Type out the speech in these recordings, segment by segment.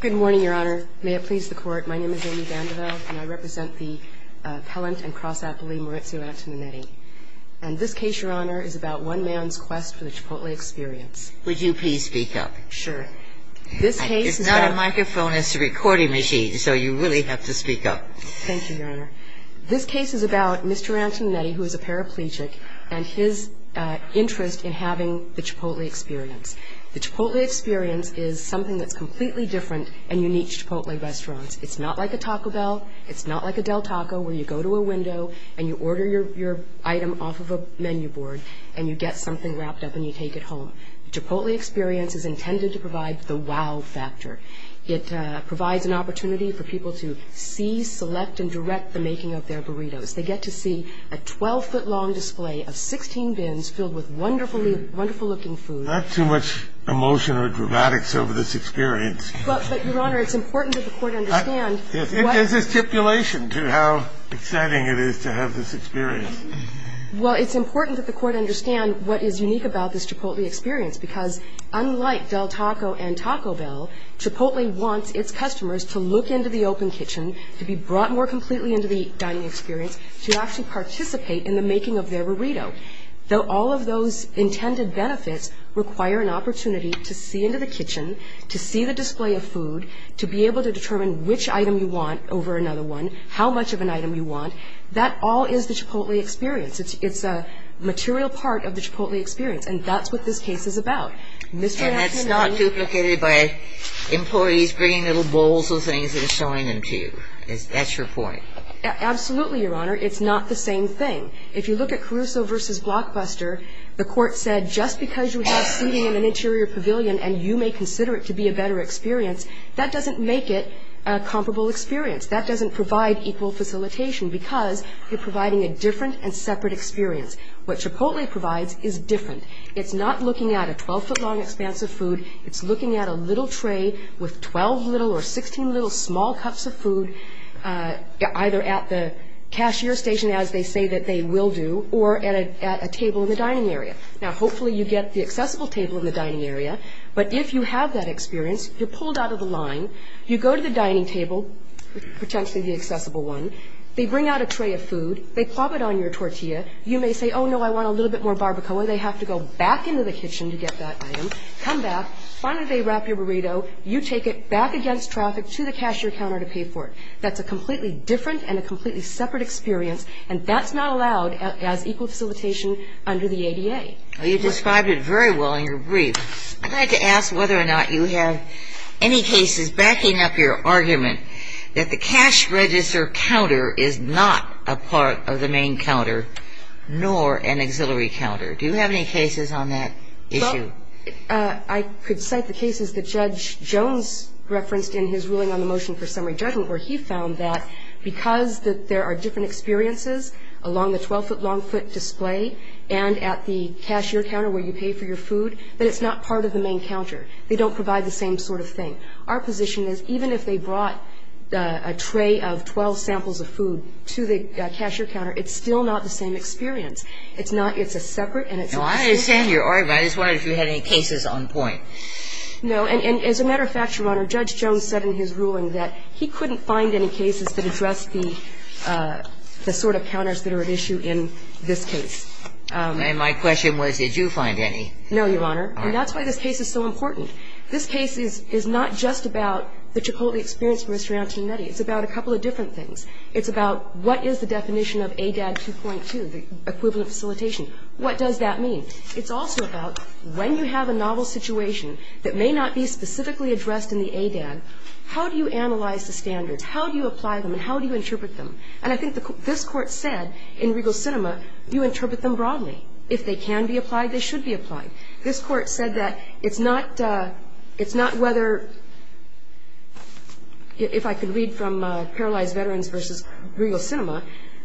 Good morning, Your Honor. May it please the Court, my name is Amy Vandervelde, and I represent the Pellant and Cross-Appley Marizio Antoninetti. And this case, Your Honor, is about one man's quest for the Chipotle experience. Would you please speak up? Sure. This case is about Mr. Antoninetti, who is a paraplegic, and his interest in having the Chipotle experience. The Chipotle experience is something that's completely different and unique to Chipotle restaurants. It's not like a Taco Bell, it's not like a Del Taco, where you go to a window and you order your item off of a menu board, and you get something wrapped up and you take it home. The Chipotle experience is intended to provide the wow factor. It provides an opportunity for people to see, select, and direct the making of their burritos. They get to see a 12-foot-long display of 16 bins filled with wonderful-looking food. There's not too much emotion or dramatics over this experience. But, Your Honor, it's important that the Court understand what – It is a stipulation to how exciting it is to have this experience. Well, it's important that the Court understand what is unique about this Chipotle experience, because unlike Del Taco and Taco Bell, Chipotle wants its customers to look into the open kitchen, to be brought more completely into the dining experience, to actually participate in the making of their burrito. Though all of those intended benefits require an opportunity to see into the kitchen, to see the display of food, to be able to determine which item you want over another one, how much of an item you want, that all is the Chipotle experience. It's a material part of the Chipotle experience, and that's what this case is about. And that's not duplicated by employees bringing little bowls of things and showing them to you. That's your point. Absolutely, Your Honor. It's not the same thing. If you look at Caruso v. Blockbuster, the Court said just because you have seating in an interior pavilion and you may consider it to be a better experience, that doesn't make it a comparable experience. That doesn't provide equal facilitation, because you're providing a different and separate experience. What Chipotle provides is different. It's not looking at a 12-foot-long expanse of food. It's looking at a little tray with 12 little or 16 little small cups of food, either at the cashier station, as they say that they will do, or at a table in the dining area. Now, hopefully you get the accessible table in the dining area, but if you have that experience, you're pulled out of the line. You go to the dining table, potentially the accessible one. They bring out a tray of food. They plop it on your tortilla. You may say, oh, no, I want a little bit more barbacoa. They have to go back into the kitchen to get that item. Come back. Finally, they wrap your burrito. You take it back against traffic to the cashier counter to pay for it. That's a completely different and a completely separate experience, and that's not allowed as equal facilitation under the ADA. You described it very well in your brief. I'd like to ask whether or not you have any cases backing up your argument that the cash register counter is not a part of the main counter, nor an auxiliary counter. Do you have any cases on that issue? I could cite the cases that Judge Jones referenced in his ruling on the motion for summary judgment, where he found that because there are different experiences along the 12-foot-long foot display and at the cashier counter where you pay for your food, that it's not part of the main counter. They don't provide the same sort of thing. Our position is even if they brought a tray of 12 samples of food to the cashier counter, it's still not the same experience. It's not. It's a separate, and it's a separate. I understand your argument. I just wondered if you had any cases on point. No. And as a matter of fact, Your Honor, Judge Jones said in his ruling that he couldn't find any cases that addressed the sort of counters that are at issue in this case. And my question was, did you find any? No, Your Honor. And that's why this case is so important. This case is not just about the Chipotle experience for Mr. Antionetti. It's about a couple of different things. It's about what is the definition of ADAD 2.2, the equivalent facilitation. What does that mean? It's also about when you have a novel situation that may not be specifically addressed in the ADAD, how do you analyze the standards? How do you apply them, and how do you interpret them? And I think this Court said in Regal Cinema, you interpret them broadly. If they can be applied, they should be applied. This Court said that it's not whether, if I could read from Paralyzed Veterans v. Regal Cinema,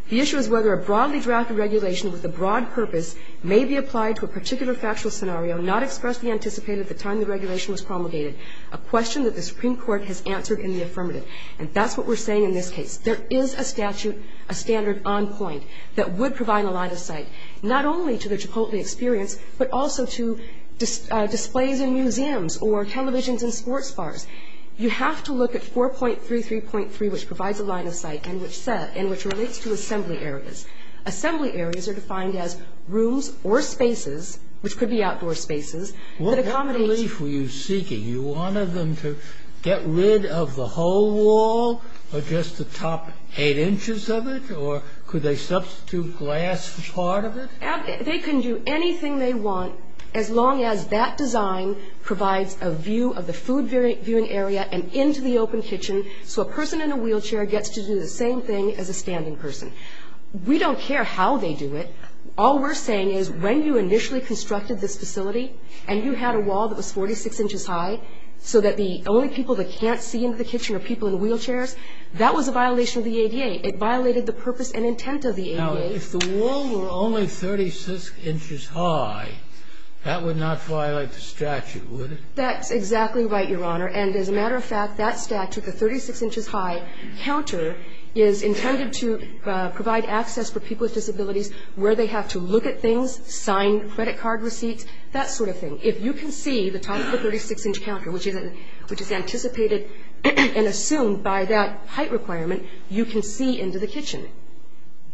the issue is whether a broadly drafted regulation with a broad purpose may be applied to a particular factual scenario, not expressly anticipated at the time the regulation was promulgated, a question that the Supreme Court has answered in the affirmative. And that's what we're saying in this case. There is a statute, a standard on point, that would provide a line of sight, not only to the Chipotle experience, but also to displays in museums or televisions and sports bars. You have to look at 4.33.3, which provides a line of sight and which relates to assembly areas. Assembly areas are defined as rooms or spaces, which could be outdoor spaces, that accommodate What kind of relief were you seeking? You wanted them to get rid of the whole wall or just the top eight inches of it? Or could they substitute glass for part of it? They can do anything they want, as long as that design provides a view of the food viewing area and into the open kitchen, so a person in a wheelchair gets to do the same thing as a standing person. We don't care how they do it. All we're saying is when you initially constructed this facility and you had a wall that was 46 inches high, so that the only people that can't see into the kitchen are people in wheelchairs, that was a violation of the ADA. It violated the purpose and intent of the ADA. Now, if the wall were only 36 inches high, that would not violate the statute, would it? That's exactly right, Your Honor. And as a matter of fact, that statute, the 36 inches high counter, is intended to provide access for people with disabilities where they have to look at things, sign credit card receipts, that sort of thing. If you can see the top of the 36 inch counter, which is anticipated and assumed by that height requirement, you can see into the kitchen.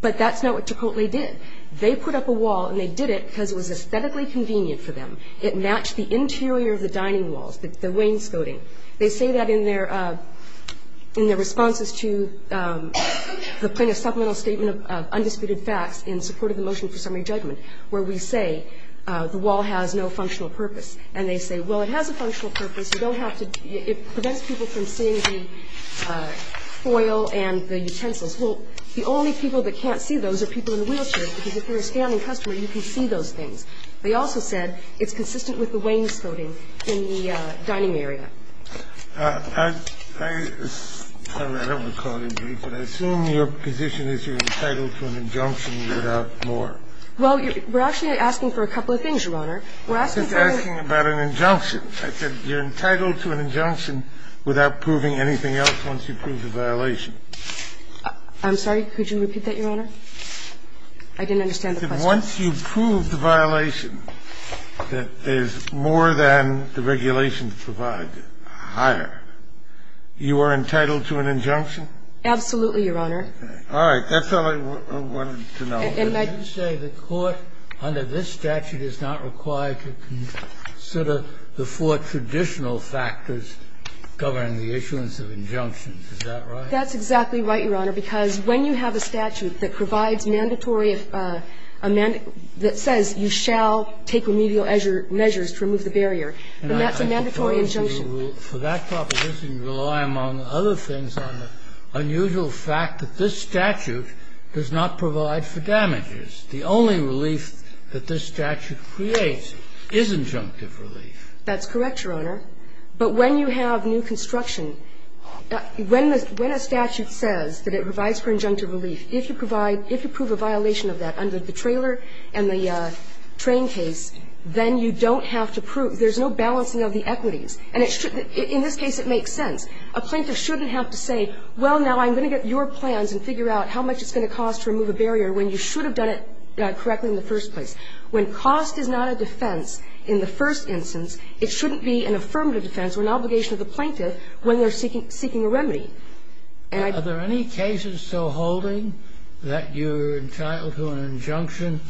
But that's not what Chipotle did. They put up a wall and they did it because it was aesthetically convenient for them. It matched the interior of the dining walls, the wainscoting. They say that in their responses to the supplemental statement of undisputed facts in support of the motion for summary judgment, where we say the wall has no functional purpose. And they say, well, it has a functional purpose. It prevents people from seeing the foil and the utensils. Well, the only people that can't see those are people in wheelchairs, because if you're a standing customer, you can see those things. They also said it's consistent with the wainscoting in the dining area. I don't recall it in brief, but I assume your position is you're entitled to an injunction without more. Well, we're actually asking for a couple of things, Your Honor. We're asking for a ---- I said you're entitled to an injunction without proving anything else once you prove the violation. I'm sorry. Could you repeat that, Your Honor? I didn't understand the question. Once you prove the violation, that is more than the regulation to provide, higher, you are entitled to an injunction? Absolutely, Your Honor. All right. That's all I wanted to know. And I do say the court under this statute is not required to consider the four traditional factors governing the issuance of injunctions. Is that right? That's exactly right, Your Honor, because when you have a statute that provides mandatory ---- that says you shall take remedial measures to remove the barrier, then that's a mandatory injunction. For that proposition, you rely, among other things, on the unusual fact that this statute does not provide for damages. The only relief that this statute creates is injunctive relief. That's correct, Your Honor. But when you have new construction, when a statute says that it provides for injunctive relief, if you provide, if you prove a violation of that under the trailer and the train case, then you don't have to prove ---- there's no balancing of the equities. And it should be ---- in this case, it makes sense. A plaintiff shouldn't have to say, well, now, I'm going to get your plans and figure out how much it's going to cost to remove a barrier, when you should have done it correctly in the first place. When cost is not a defense in the first instance, it shouldn't be an affirmative defense or an obligation of the plaintiff when they're seeking a remedy. And I ---- Are there any cases still holding that you're entitled to an injunction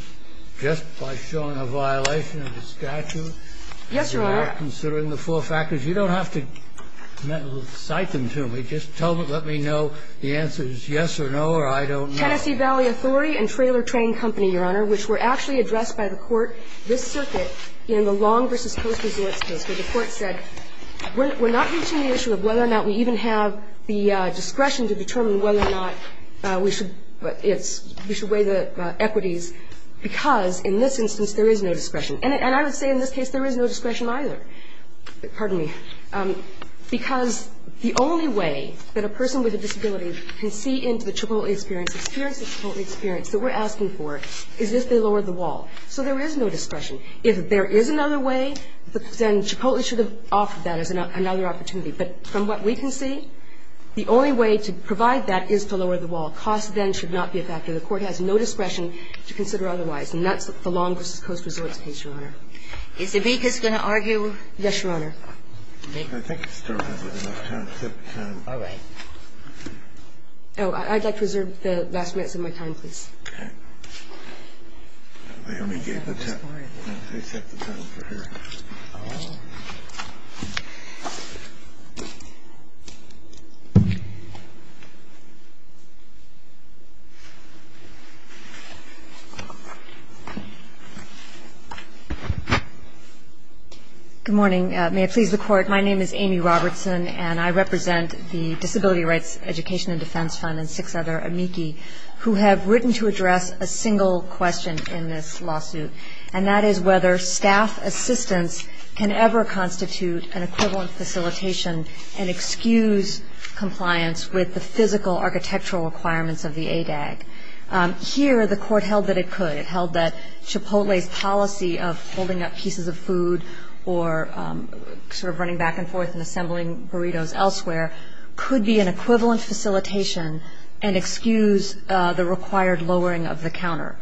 just by showing a violation of the statute? Yes, Your Honor. You're not considering the four factors. You don't have to cite them to me. Just tell me, let me know the answer is yes or no or I don't know. Tennessee Valley Authority and Trailer Train Company, Your Honor, which were actually addressed by the Court this circuit in the Long v. Coast Resorts case, where the Court said, we're not reaching the issue of whether or not we even have the discretion to determine whether or not we should weigh the equities, because in this instance, there is no discretion. And I would say in this case there is no discretion either. Pardon me. Because the only way that a person with a disability can see into the Chipotle experience, experience the Chipotle experience that we're asking for, is if they lower the wall. So there is no discretion. If there is another way, then Chipotle should have offered that as another opportunity. But from what we can see, the only way to provide that is to lower the wall. Costs then should not be a factor. The Court has no discretion to consider otherwise. And that's the Long v. Coast Resorts case, Your Honor. Is the BQIS going to argue? Yes, Your Honor. I think we've started with enough time. All right. Oh, I'd like to reserve the last minutes of my time, please. OK. They only gave the time. They set the time for her. Good morning. May it please the Court, my name is Amy Robertson. And I represent the Disability Rights Education and Defense Fund and six other amici who have written to address a single question in this lawsuit. And that is whether staff assistance can ever constitute an equivalent facilitation and excuse compliance with the physical architectural requirements of the ADAG. Here, the Court held that it could. It held that Chipotle's policy of holding up pieces of food or sort of running back and forth and assembling burritos elsewhere could be an equivalent facilitation and excuse the required lowering of the counter.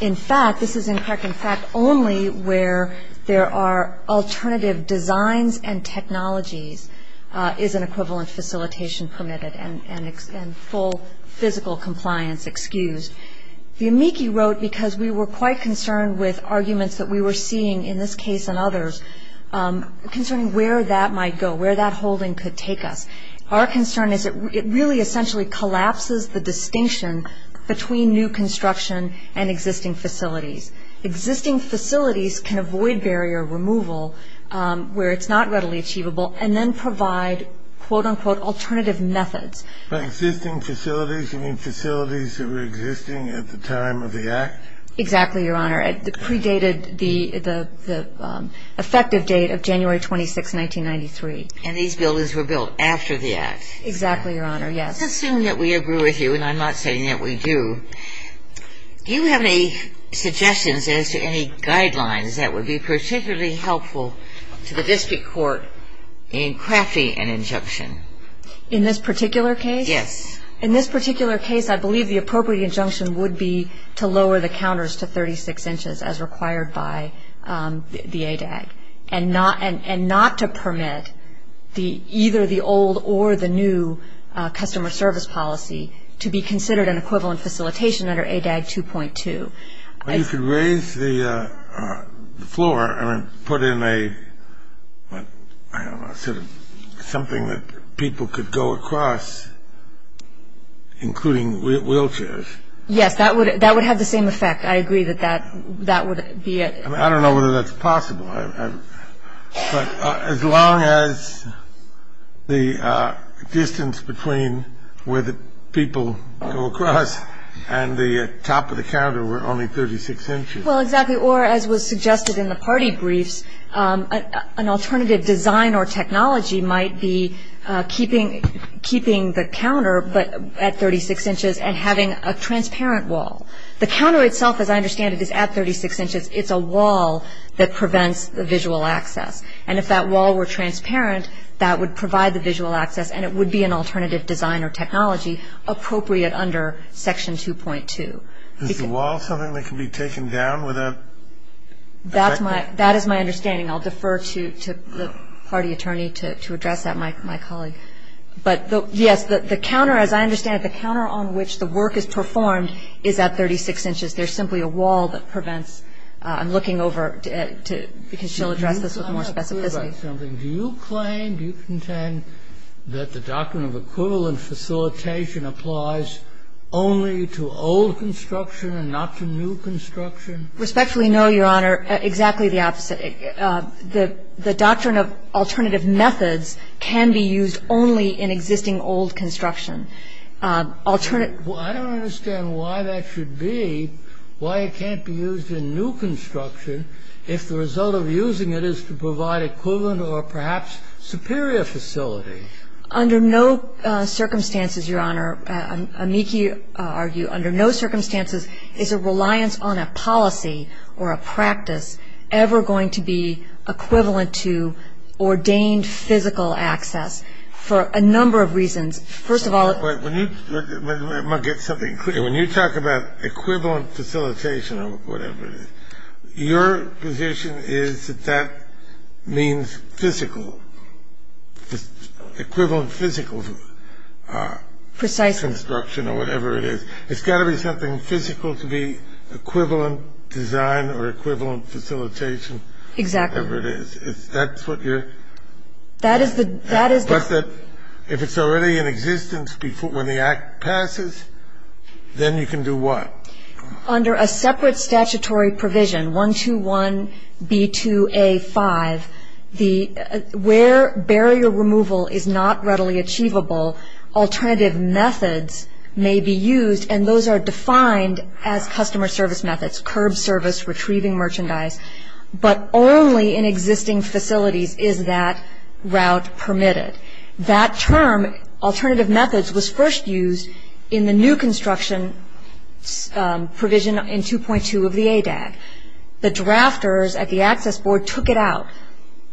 In fact, this is in fact only where there are alternative designs and technologies is an equivalent facilitation permitted and full physical compliance excused. The amici wrote because we were quite concerned with arguments that we were seeing in this case and others concerning where that might go, where that holding could take us. Our concern is it really essentially collapses the distinction between new construction and existing facilities. Existing facilities can avoid barrier removal where it's not readily achievable and then provide quote unquote alternative methods. But existing facilities, you mean facilities that were existing at the time of the act? Exactly, Your Honor. It predated the effective date of January 26, 1993. And these buildings were built after the act? Exactly, Your Honor, yes. Assuming that we agree with you and I'm not saying that we do, do you have any suggestions as to any guidelines that would be particularly helpful to the District Court in crafting an injunction? In this particular case? Yes. In this particular case, I believe the appropriate injunction would be to lower the counters to 36 inches as required by the ADAG and not to permit either the old or the new customer service policy to be considered an equivalent facilitation under ADAG 2.2. You could raise the floor and put in a, I don't know, sort of something that people could go across including wheelchairs. Yes, that would have the same effect. I agree that that would be a. I don't know whether that's possible. But as long as the distance between where the people go across and the top of the counter were only 36 inches. Well, exactly. Or as was suggested in the party briefs, an alternative design or technology might be keeping the counter at 36 inches and having a transparent wall. The counter itself, as I understand it, is at 36 inches. It's a wall that prevents the visual access. And if that wall were transparent, that would provide the visual access and it would be an alternative design or technology appropriate under Section 2.2. Is the wall something that can be taken down without? That's my, that is my understanding. I'll defer to the party attorney to address that, my colleague. But yes, the counter, as I understand it, the counter on which the work is performed is at 36 inches, there's simply a wall that prevents. I'm looking over to, we can still address this with more specificity. Do you claim, do you contend that the doctrine of equivalent facilitation applies only to old construction and not to new construction? Respectfully, no, Your Honor. Exactly the opposite. The doctrine of alternative methods can be used only in existing old construction. Alternate. Well, I don't understand why that should be, why it can't be used in new construction if the result of using it is to provide equivalent or perhaps superior facility. Under no circumstances, Your Honor, amici argue, under no circumstances is a reliance on a policy or a practice ever going to be equivalent to ordained physical access for a number of reasons. First of all, when you, let me get something clear. When you talk about equivalent facilitation or whatever it is, your position is that that means physical, equivalent physical. Precisely. Construction or whatever it is. It's got to be something physical to be equivalent design or equivalent facilitation. Exactly. Whatever it is, that's what you're. That is the, that is the. If it's already in existence before, when the act passes, then you can do what? Under a separate statutory provision, 121B2A5, the, where barrier removal is not readily achievable, alternative methods may be used. And those are defined as customer service methods, curb service, retrieving merchandise. But only in existing facilities is that route permitted. That term, alternative methods, was first used in the new construction provision in 2.2 of the ADAG. The drafters at the access board took it out.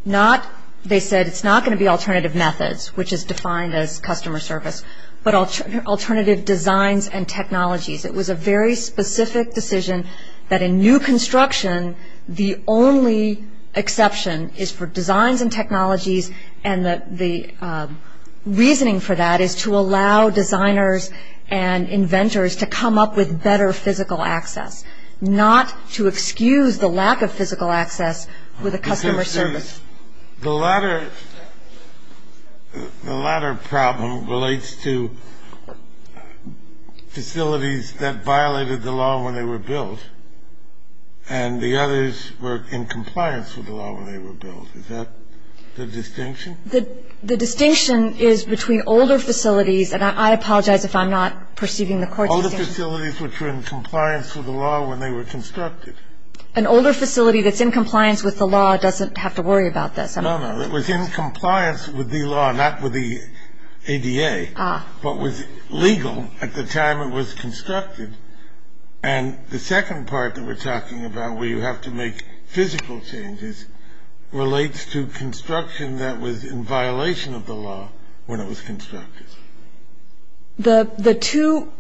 Not, they said it's not going to be alternative methods, which is defined as customer service, but alternative designs and technologies. It was a very specific decision that in new construction, the only exception is for designs and technologies. And the, the reasoning for that is to allow designers and inventors to come up with better physical access. Not to excuse the lack of physical access with a customer service. The latter, the latter problem relates to facilities that violated the law when they were built, and the others were in compliance with the law when they were built. Is that the distinction? The distinction is between older facilities, and I apologize if I'm not perceiving the court's distinction. Older facilities which were in compliance with the law when they were constructed. An older facility that's in compliance with the law doesn't have to worry about this. No, no, it was in compliance with the law, not with the ADA, but was legal at the time it was constructed. And the second part that we're talking about, where you have to make physical changes, relates to construction that was in violation of the law when it was constructed. The, the two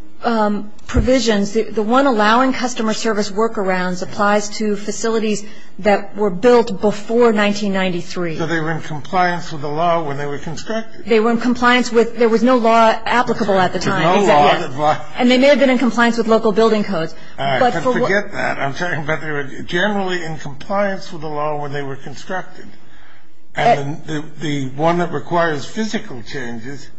provisions, the one allowing customer service workarounds, applies to facilities that were built before 1993. So they were in compliance with the law when they were constructed. They were in compliance with, there was no law applicable at the time. There's no law that was. And they may have been in compliance with local building codes. All right, forget that, I'm sorry. But they were generally in compliance with the law when they were constructed. And the one that requires physical changes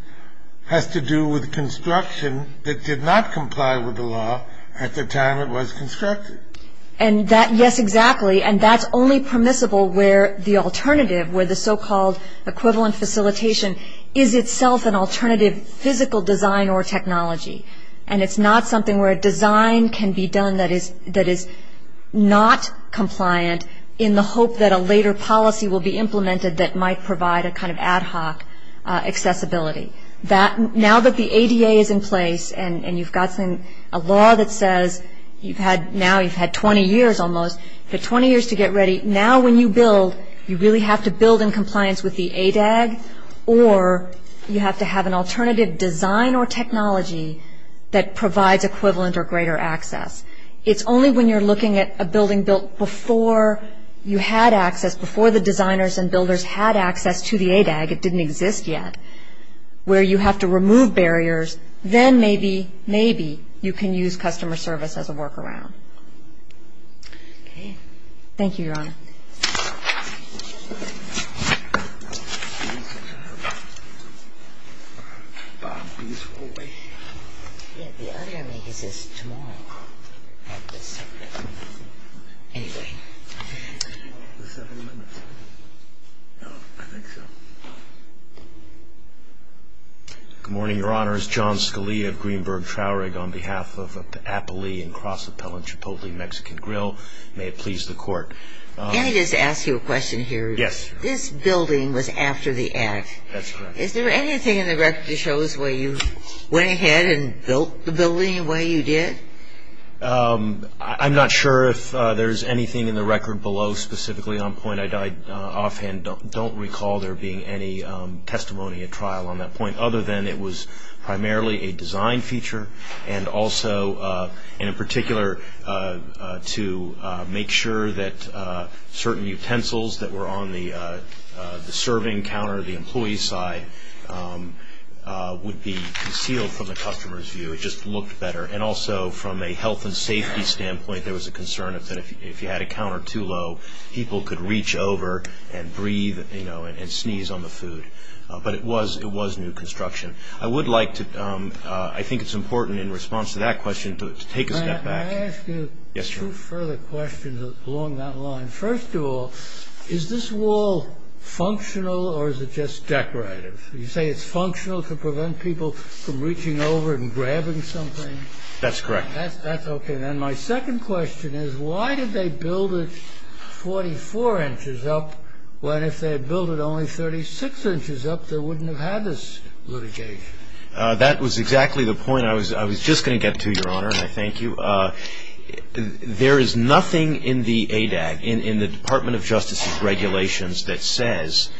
has to do with construction that did not comply with the law at the time it was constructed. And that, yes, exactly. And that's only permissible where the alternative, where the so-called equivalent facilitation is itself an alternative physical design or technology. And it's not something where a design can be done that is, that is not compliant in the hope that a later policy will be implemented that might provide a kind of ad hoc accessibility. That, now that the ADA is in place and, and you've got some, a law that says, you've had, now you've had 20 years almost, you've got 20 years to get ready. Now when you build, you really have to build in compliance with the ADAG or you have to have an alternative design or technology that provides equivalent or greater access. It's only when you're looking at a building built before you had access, before the designers and builders had access to the ADAG, it didn't exist yet, where you have to remove barriers, then maybe, maybe you can use customer service as a workaround. Okay. Thank you, Your Honor. Bob, please wait. Yeah, the other thing, he says tomorrow. Anyway. The seven minutes. Oh, I think so. Good morning, Your Honors. My name is John Scully of Greenberg Traurig on behalf of Appley and Cross Appellant Chipotle Mexican Grill. May it please the Court. Can I just ask you a question here? Yes. This building was after the act. That's correct. Is there anything in the record that shows where you went ahead and built the building the way you did? I'm not sure if there's anything in the record below specifically on point. I offhand don't recall there being any testimony at trial on that point, other than it was primarily a design feature, and also in particular to make sure that certain utensils that were on the serving counter, the employee side, would be concealed from the customer's view. It just looked better. And also from a health and safety standpoint, there was a concern that if you had a counter too low, people could reach over and breathe, you know, and sneeze on the food. But it was new construction. I think it's important in response to that question to take a step back. May I ask you two further questions along that line? First of all, is this wall functional or is it just decorative? You say it's functional to prevent people from reaching over and grabbing something? That's correct. That's okay. And then my second question is why did they build it 44 inches up when, if they had built it only 36 inches up, they wouldn't have had this litigation? That was exactly the point I was just going to get to, Your Honor, and I thank you. There is nothing in the ADAG, in the Department of Justice's regulations, that says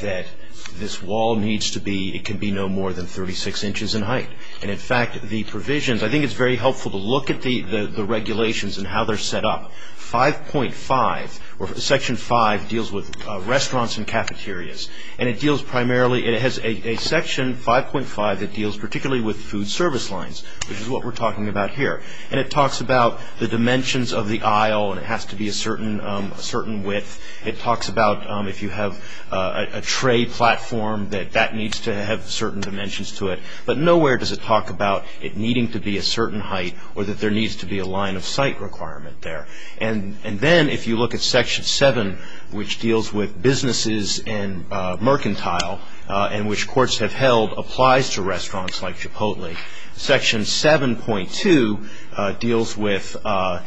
that this wall needs to be, it can be no more than 36 inches in height. And, in fact, the provisions, I think it's very helpful to look at the regulations and how they're set up. 5.5, or Section 5, deals with restaurants and cafeterias. And it deals primarily, it has a Section 5.5 that deals particularly with food service lines, which is what we're talking about here. And it talks about the dimensions of the aisle, and it has to be a certain width. It talks about if you have a tray platform, that that needs to have certain dimensions to it. But nowhere does it talk about it needing to be a certain height or that there needs to be a line of sight requirement there. And then if you look at Section 7, which deals with businesses and mercantile, and which courts have held applies to restaurants like Chipotle, Section 7.2 deals with the,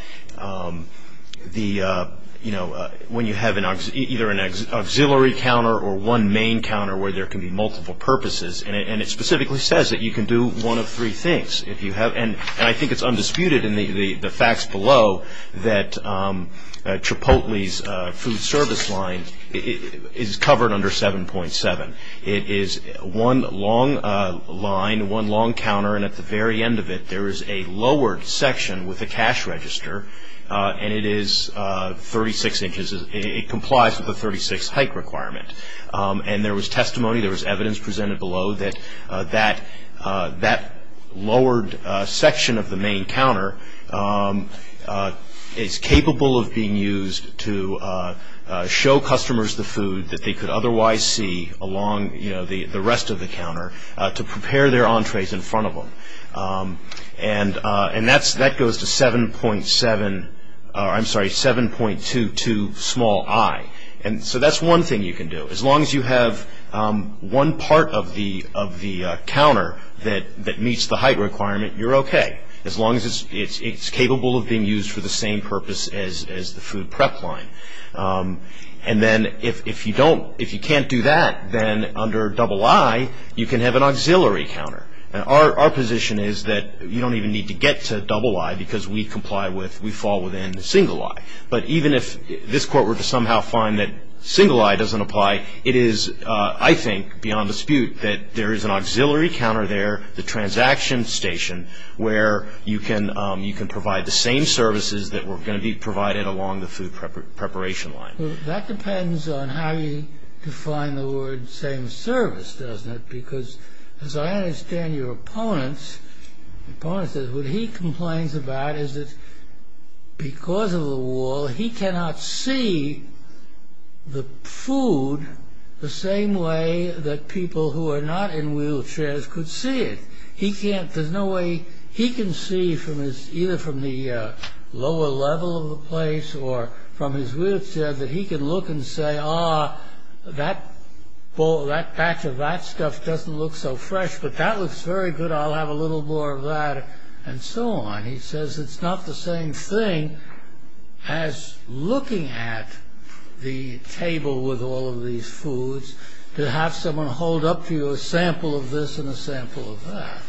you know, when you have either an auxiliary counter or one main counter where there can be multiple purposes. And it specifically says that you can do one of three things. And I think it's undisputed in the facts below that Chipotle's food service line is covered under 7.7. It is one long line, one long counter, and at the very end of it, there is a lowered section with a cash register, and it is 36 inches. It complies with the 36 height requirement. And there was testimony, there was evidence presented below, that that lowered section of the main counter is capable of being used to show customers the food that they could otherwise see along, you know, the rest of the counter, to prepare their entrees in front of them. And that goes to 7.7, I'm sorry, 7.22 small i. And so that's one thing you can do. As long as you have one part of the counter that meets the height requirement, you're okay. As long as it's capable of being used for the same purpose as the food prep line. And then if you don't, if you can't do that, then under double I, you can have an auxiliary counter. And our position is that you don't even need to get to double I because we comply with, we fall within the single I. But even if this Court were to somehow find that single I doesn't apply, it is, I think, beyond dispute that there is an auxiliary counter there, the transaction station, where you can provide the same services that were going to be provided along the food preparation line. That depends on how you define the word same service, doesn't it? Because as I understand your opponent, opponent says, what he complains about is that because of the wall, he cannot see the food the same way that people who are not in wheelchairs could see it. He can't, there's no way, he can see from his, either from the lower level of the place or from his wheelchair that he can look and say, that bowl, that batch of that stuff doesn't look so fresh, but that looks very good, I'll have a little more of that and so on. He says it's not the same thing as looking at the table with all of these foods to have someone hold up to you a sample of this and a sample of that.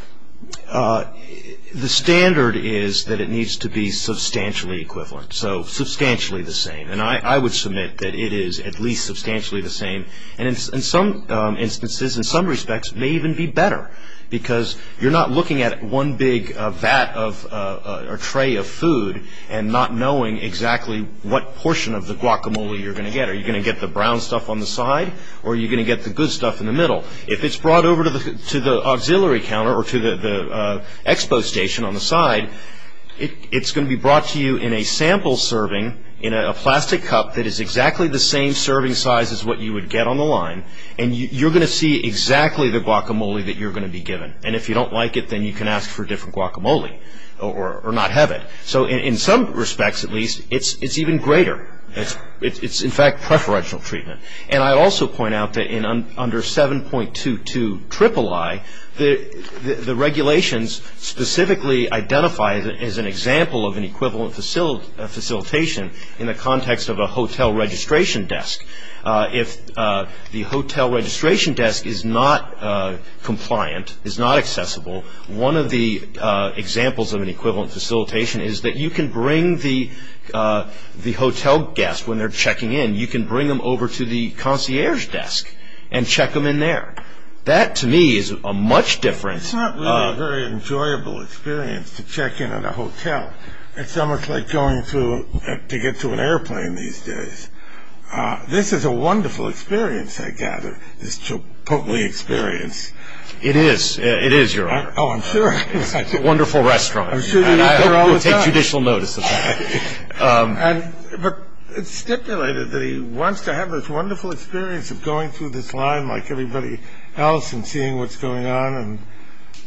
The standard is that it needs to be substantially equivalent, so substantially the same. I would submit that it is at least substantially the same. In some instances, in some respects, it may even be better because you're not looking at one big vat or tray of food and not knowing exactly what portion of the guacamole you're going to get. Are you going to get the brown stuff on the side or are you going to get the good stuff in the middle? If it's brought over to the auxiliary counter or to the expo station on the side, it's going to be brought to you in a sample serving in a plastic cup that is exactly the same serving size as what you would get on the line and you're going to see exactly the guacamole that you're going to be given. If you don't like it, then you can ask for a different guacamole or not have it. In some respects, at least, it's even greater. It's, in fact, preferential treatment. And I also point out that under 7.22 IIII, the regulations specifically identify it as an example of an equivalent facilitation in the context of a hotel registration desk. If the hotel registration desk is not compliant, is not accessible, one of the examples of an equivalent facilitation is that you can bring the hotel guests, when they're checking in, you can bring them over to the concierge desk and check them in there. That, to me, is a much different. It's not really a very enjoyable experience to check in at a hotel. It's almost like going to get to an airplane these days. This is a wonderful experience, I gather, this Chipotle experience. It is. It is, Your Honor. Oh, I'm sure it is. It's a wonderful restaurant. I'm sure you eat there all the time. I take judicial notice of that. But it's stipulated that he wants to have this wonderful experience of going through this line like everybody else and seeing what's going on.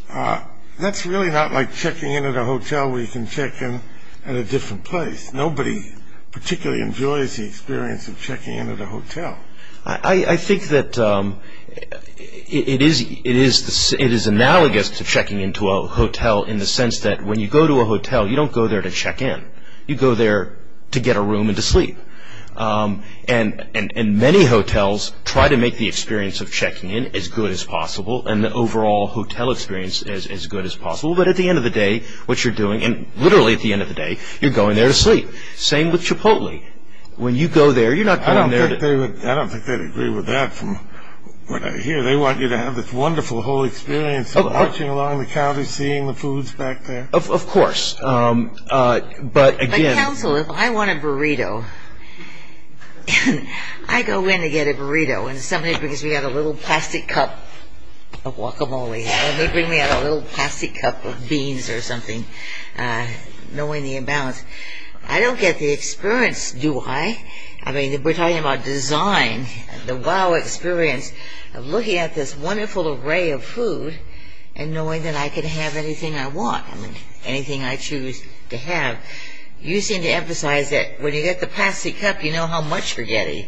And that's really not like checking in at a hotel where you can check in at a different place. Nobody particularly enjoys the experience of checking in at a hotel. I think that it is analogous to checking into a hotel in the sense that when you go to a hotel, you don't go there to check in. You go there to get a room and to sleep. And many hotels try to make the experience of checking in as good as possible and the overall hotel experience as good as possible. But at the end of the day, what you're doing, and literally at the end of the day, you're going there to sleep. Same with Chipotle. When you go there, you're not going there to... I don't think they'd agree with that from what I hear. They want you to have this wonderful whole experience of marching along the county, and actually seeing the foods back there. Of course. But again... But counsel, if I want a burrito, I go in to get a burrito, and somebody brings me out a little plastic cup of guacamole, or they bring me out a little plastic cup of beans or something, knowing the amount. I don't get the experience, do I? I mean, we're talking about design, the wow experience of looking at this wonderful array of food and knowing that I can have anything I want, anything I choose to have. You seem to emphasize that when you get the plastic cup, you know how much you're getting.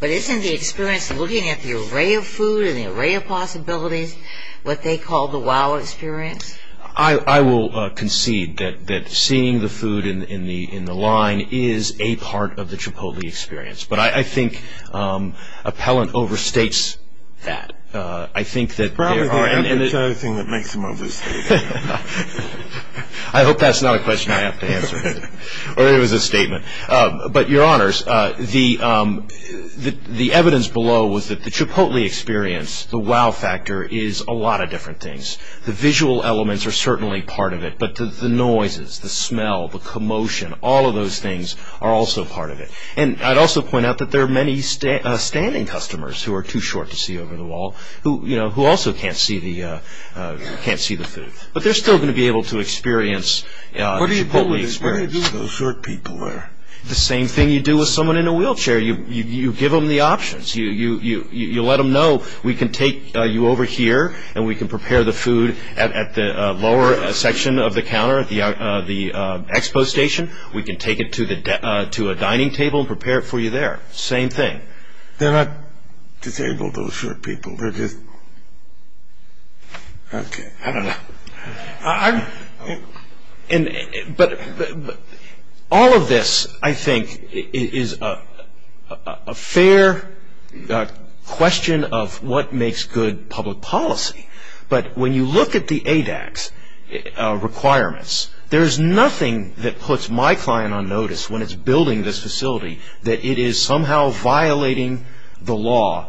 But isn't the experience of looking at the array of food and the array of possibilities what they call the wow experience? I will concede that seeing the food in the line is a part of the Chipotle experience. But I think Appellant overstates that. Probably the Appellant is the only thing that makes them overstate it. I hope that's not a question I have to answer, or that it was a statement. But, Your Honors, the evidence below was that the Chipotle experience, the wow factor, is a lot of different things. The visual elements are certainly part of it, but the noises, the smell, the commotion, all of those things are also part of it. And I'd also point out that there are many standing customers who are too short to see over the wall, who also can't see the food. But they're still going to be able to experience the Chipotle experience. What do you do with those short people there? The same thing you do with someone in a wheelchair. You give them the options. You let them know, we can take you over here, and we can prepare the food at the lower section of the counter at the expo station. We can take it to a dining table and prepare it for you there. Same thing. They're not disabled, those short people. I don't know. All of this, I think, is a fair question of what makes good public policy. But when you look at the ADAX requirements, there's nothing that puts my client on notice when it's building this facility that it is somehow violating the law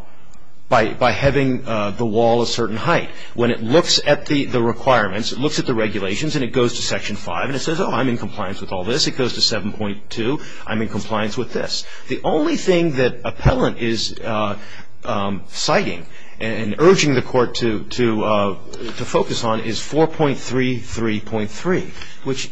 by having the wall a certain height. When it looks at the requirements, it looks at the regulations, and it goes to Section 5, and it says, oh, I'm in compliance with all this. It goes to 7.2. I'm in compliance with this. The only thing that appellant is citing and urging the court to focus on is 4.33.3, which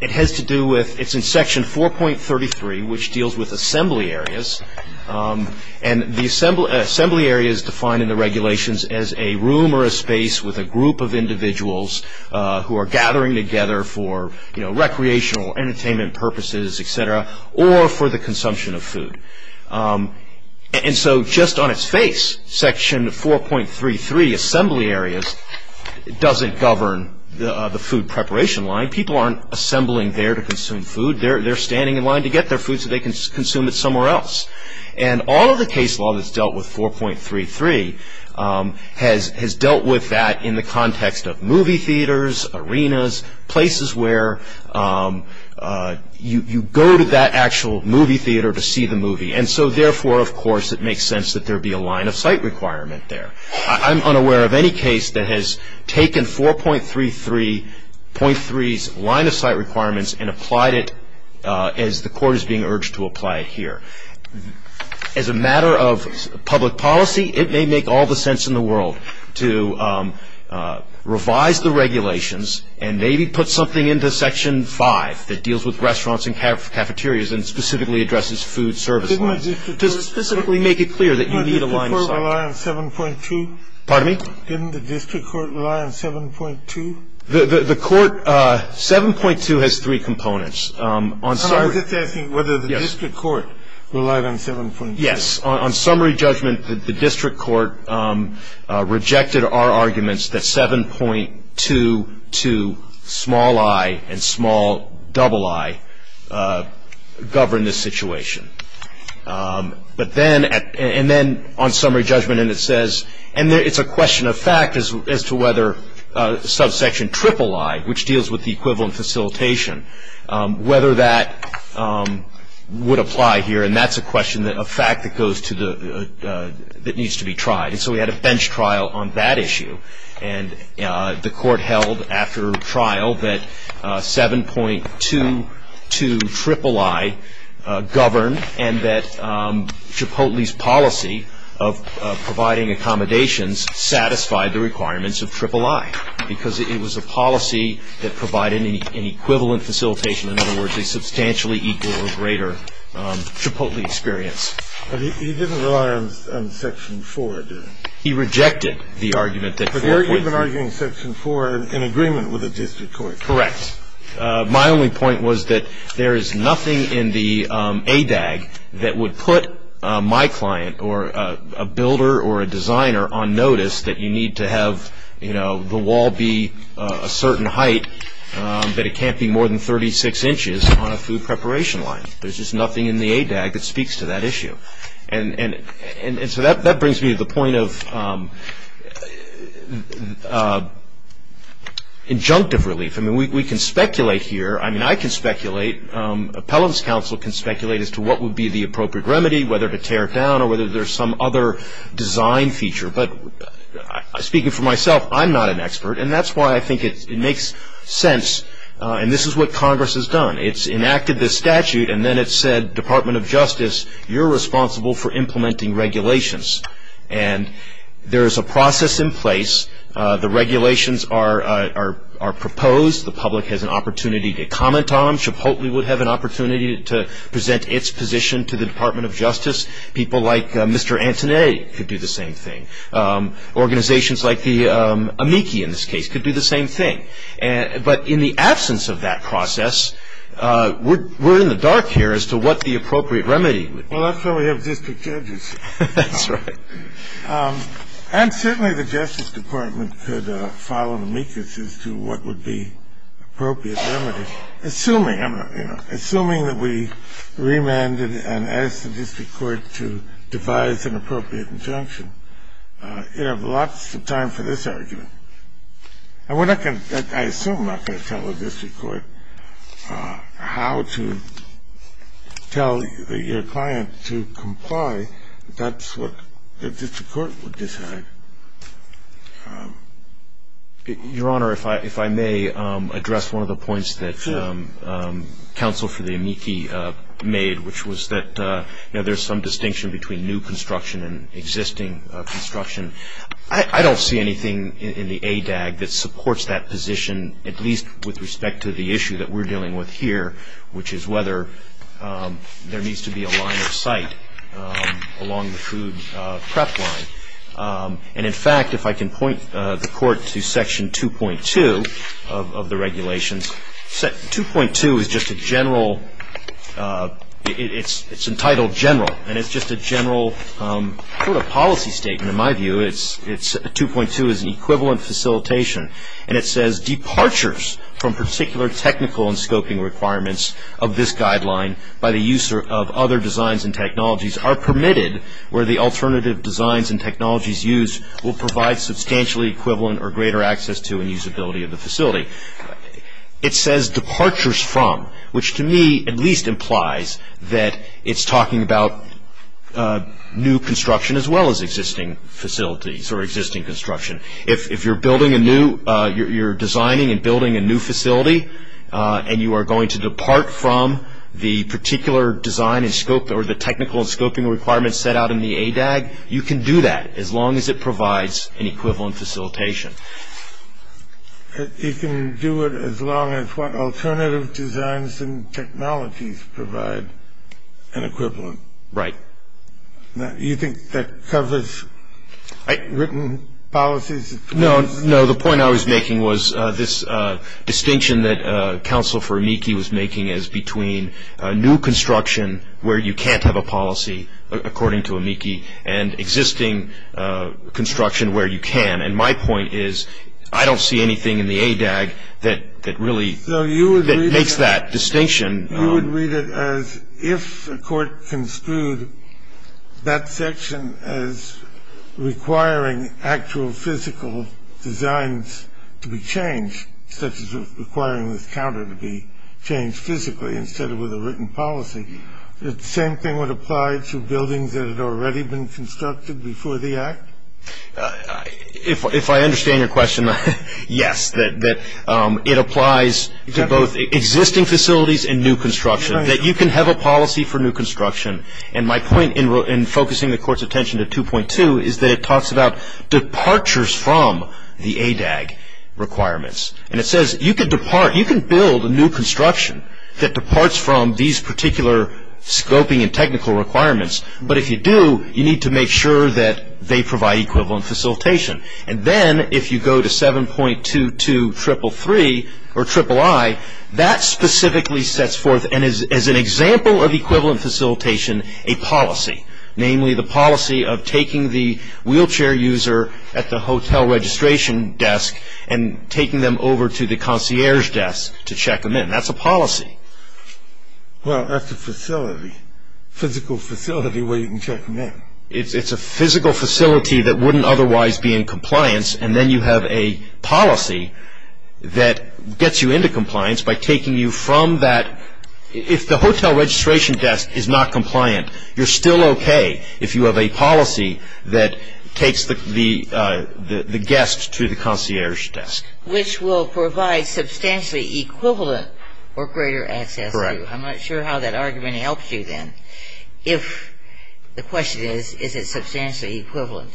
it has to do with it's in Section 4.33, which deals with assembly areas. And the assembly area is defined in the regulations as a room or a space with a group of individuals who are gathering together for recreational entertainment purposes, et cetera, or for the consumption of food. And so just on its face, Section 4.33, assembly areas, doesn't govern the food preparation line. People aren't assembling there to consume food. They're standing in line to get their food so they can consume it somewhere else. And all of the case law that's dealt with 4.33 has dealt with that in the context of movie theaters, arenas, places where you go to that actual movie theater to see the movie. And so therefore, of course, it makes sense that there be a line-of-sight requirement there. I'm unaware of any case that has taken 4.33.3's line-of-sight requirements and applied it as the court is being urged to apply it here. As a matter of public policy, it may make all the sense in the world to revise the regulations and maybe put something into Section 5 that deals with restaurants and cafeterias and specifically addresses food service lines to specifically make it clear that you need a line-of-sight. Didn't the district court rely on 7.2? Pardon me? Didn't the district court rely on 7.2? The court, 7.2 has three components. I was just asking whether the district court relied on 7.2. Yes. On summary judgment, the district court rejected our arguments that 7.2 to small i and small double i govern this situation. And then on summary judgment, and it's a question of fact as to whether subsection triple i, which deals with the equivalent facilitation, whether that would apply here. And that's a question of fact that needs to be tried. And so we had a bench trial on that issue. And the court held after trial that 7.2 to triple i governed and that Chipotle's policy of providing accommodations satisfied the requirements of triple i because it was a policy that provided an equivalent facilitation, in other words, a substantially equal or greater Chipotle experience. But he didn't rely on Section 4, did he? He rejected the argument that 4.3. But you've been arguing Section 4 in agreement with the district court. Correct. My only point was that there is nothing in the ADAG that would put my client or a builder or a designer on notice that you need to have, you know, the wall be a certain height, that it can't be more than 36 inches on a food preparation line. And so that brings me to the point of injunctive relief. I mean, we can speculate here. I mean, I can speculate. Appellant's counsel can speculate as to what would be the appropriate remedy, whether to tear it down or whether there's some other design feature. But speaking for myself, I'm not an expert. And that's why I think it makes sense. And this is what Congress has done. It's enacted this statute, and then it said, Department of Justice, you're responsible for implementing regulations. And there is a process in place. The regulations are proposed. The public has an opportunity to comment on them. Chipotle would have an opportunity to present its position to the Department of Justice. People like Mr. Antone could do the same thing. Organizations like the amici, in this case, could do the same thing. But in the absence of that process, we're in the dark here as to what the appropriate remedy would be. Well, that's why we have district judges. That's right. And certainly the Justice Department could follow amicus as to what would be appropriate remedy, assuming that we remanded and asked the district court to devise an appropriate injunction. You'd have lots of time for this argument. I assume I'm not going to tell the district court how to tell your client to comply. That's what the district court would decide. Your Honor, if I may address one of the points that counsel for the amici made, which was that there's some distinction between new construction and existing construction. I don't see anything in the ADAG that supports that position, at least with respect to the issue that we're dealing with here, which is whether there needs to be a line of sight along the food prep line. And, in fact, if I can point the Court to Section 2.2 of the regulations. 2.2 is just a general, it's entitled general, and it's just a general sort of policy statement in my view. 2.2 is an equivalent facilitation, and it says departures from particular technical and scoping requirements of this guideline by the use of other designs and technologies are permitted where the alternative designs and technologies used will provide substantially equivalent or greater access to and usability of the facility. It says departures from, which to me at least implies that it's talking about new construction as well as existing facilities or existing construction. If you're building a new, you're designing and building a new facility, and you are going to depart from the particular design and scope or the technical and scoping requirements set out in the ADAG, you can do that as long as it provides an equivalent facilitation. You can do it as long as what alternative designs and technologies provide an equivalent. Right. You think that covers written policies? No. No, the point I was making was this distinction that Counsel for Amici was making as between new construction where you can't have a policy, according to Amici, and existing construction where you can. And my point is I don't see anything in the ADAG that really makes that distinction. You would read it as if a court construed that section as requiring actual physical designs to be changed, such as requiring this counter to be changed physically instead of with a written policy. The same thing would apply to buildings that had already been constructed before the Act? If I understand your question, yes, that it applies to both existing facilities and new construction, that you can have a policy for new construction. And my point in focusing the Court's attention to 2.2 is that it talks about departures from the ADAG requirements. And it says you can build a new construction that departs from these particular scoping and technical requirements, but if you do, you need to make sure that they provide equivalent facilitation. And then if you go to 7.22333 or III, that specifically sets forth, and is an example of equivalent facilitation, a policy, namely the policy of taking the wheelchair user at the hotel registration desk and taking them over to the concierge desk to check them in. That's a policy. Well, that's a facility, physical facility where you can check them in. It's a physical facility that wouldn't otherwise be in compliance, and then you have a policy that gets you into compliance by taking you from that. If the hotel registration desk is not compliant, you're still okay if you have a policy that takes the guests to the concierge desk. Which will provide substantially equivalent or greater access to. Correct. I'm not sure how that argument helps you then. If the question is, is it substantially equivalent?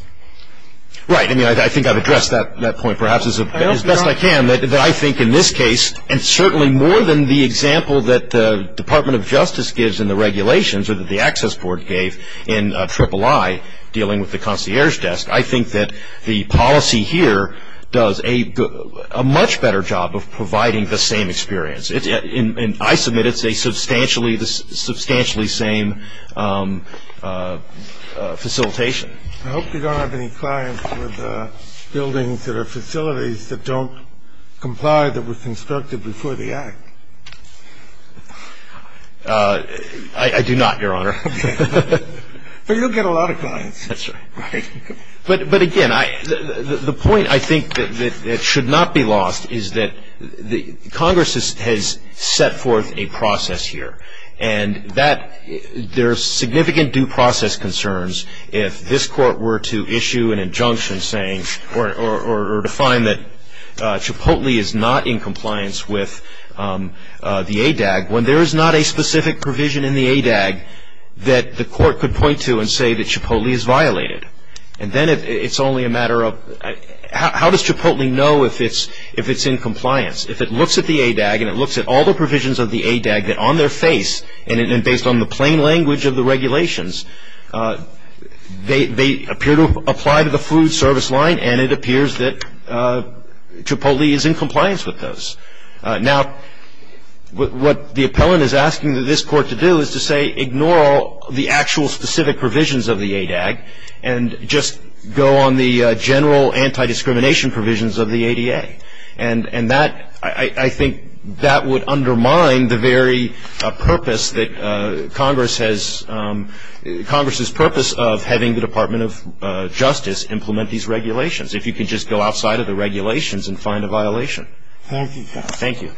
Right. I mean, I think I've addressed that point perhaps as best I can. I think in this case, and certainly more than the example that the Department of Justice gives in the regulations or that the Access Board gave in III dealing with the concierge desk, I think that the policy here does a much better job of providing the same experience. And I submit it's a substantially same facilitation. I hope you don't have any clients with buildings that are facilities that don't comply, that were constructed before the Act. I do not, Your Honor. But you'll get a lot of clients. That's right. But, again, the point I think that should not be lost is that Congress has set forth a process here. And there are significant due process concerns if this court were to issue an injunction saying or define that Chipotle is not in compliance with the ADAG, when there is not a specific provision in the ADAG that the court could point to and say that Chipotle is violated. And then it's only a matter of how does Chipotle know if it's in compliance? If it looks at the ADAG and it looks at all the provisions of the ADAG that on their face and based on the plain language of the regulations, they appear to apply to the food service line and it appears that Chipotle is in compliance with those. Now, what the appellant is asking this court to do is to say, ignore all the actual specific provisions of the ADAG and just go on the general anti-discrimination provisions of the ADA. And that, I think, that would undermine the very purpose that Congress has, Congress's purpose of having the Department of Justice implement these regulations, if you could just go outside of the regulations and find a violation. Thank you, Your Honor. Thank you.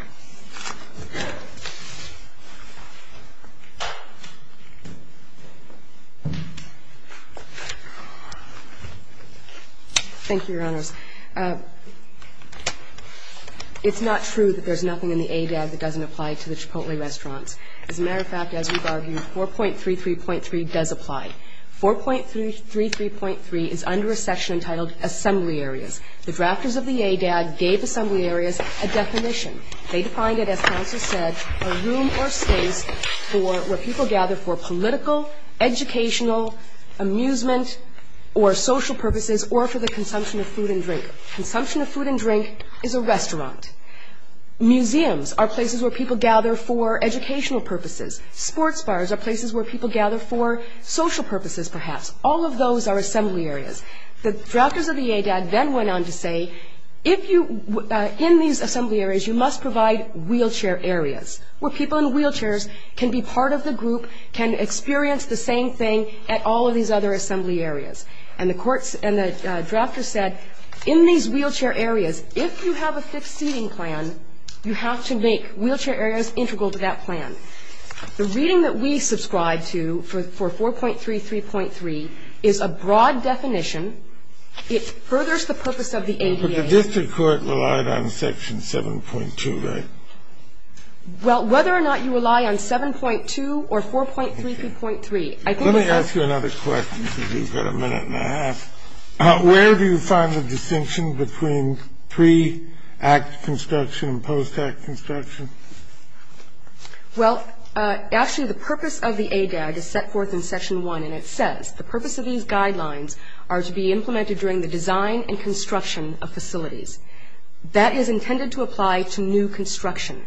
Thank you, Your Honors. It's not true that there's nothing in the ADAG that doesn't apply to the Chipotle restaurants. As a matter of fact, as we've argued, 4.33.3 does apply. 4.33.3 is under a section entitled Assembly Areas. The drafters of the ADAG gave assembly areas a definition. They defined it as counsel said, a room or space where people gather for political, educational, amusement, or social purposes or for the consumption of food and drink. Consumption of food and drink is a restaurant. Museums are places where people gather for educational purposes. Sports bars are places where people gather for social purposes, perhaps. All of those are assembly areas. The drafters of the ADAG then went on to say, in these assembly areas you must provide wheelchair areas, where people in wheelchairs can be part of the group, can experience the same thing at all of these other assembly areas. And the drafters said, in these wheelchair areas, if you have a fixed seating plan, you have to make wheelchair areas integral to that plan. The reading that we subscribe to for 4.33.3 is a broad definition. It furthers the purpose of the ADAG. But the district court relied on section 7.2, right? Well, whether or not you rely on 7.2 or 4.33.3, I think that's the case. Let me ask you another question, because we've got a minute and a half. Where do you find the distinction between pre-Act construction and post-Act construction? Well, actually, the purpose of the ADAG is set forth in section 1, and it says the purpose of these guidelines are to be implemented during the design and construction of facilities. That is intended to apply to new construction.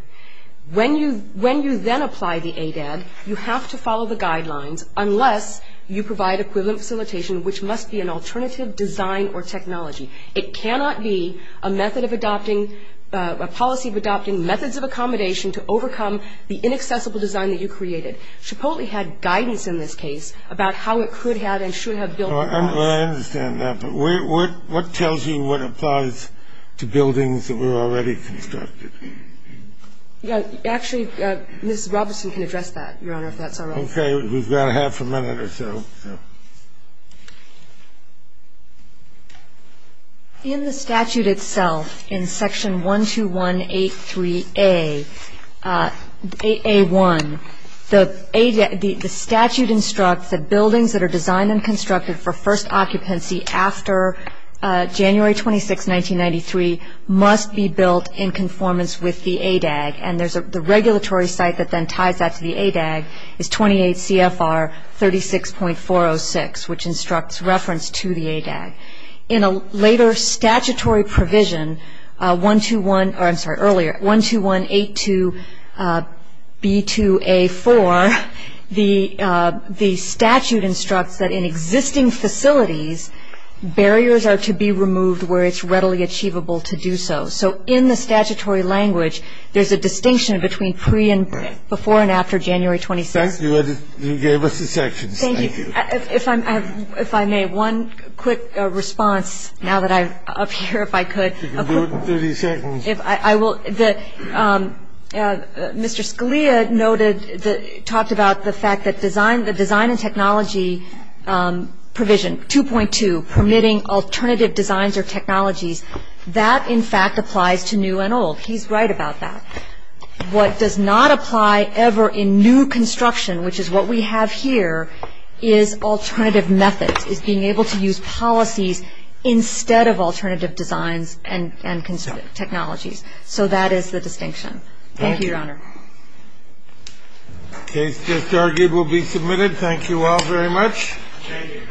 When you then apply the ADAG, you have to follow the guidelines, unless you provide equivalent facilitation, which must be an alternative design or technology. It cannot be a method of adopting, a policy of adopting methods of accommodation to overcome the inaccessible design that you created. Chipotle had guidance in this case about how it could have and should have built. Well, I understand that. But what tells you what applies to buildings that were already constructed? Actually, Ms. Robinson can address that, Your Honor, if that's all right. Okay. We've got half a minute or so. In the statute itself, in section 12183A, 8A1, the statute instructs that buildings that are designed and constructed for first occupancy after January 26, 1993 must be built in conformance with the ADAG. And the regulatory site that then ties that to the ADAG is 28 CFR 36.406, which instructs reference to the ADAG. In a later statutory provision, 12182B2A4, the statute instructs that in existing facilities, barriers are to be removed where it's readily achievable to do so. So in the statutory language, there's a distinction between pre and before and after January 26. Thank you. You gave us the sections. Thank you. If I may, one quick response now that I'm up here, if I could. You can do it in 30 seconds. I will. Mr. Scalia noted, talked about the fact that design and technology provision 2.2 permitting alternative designs or technologies, that, in fact, applies to new and old. He's right about that. What does not apply ever in new construction, which is what we have here, is alternative methods, is being able to use policies instead of alternative designs and technologies. So that is the distinction. Thank you, Your Honor. Thank you. The case just argued will be submitted. Thank you all very much. Thank you.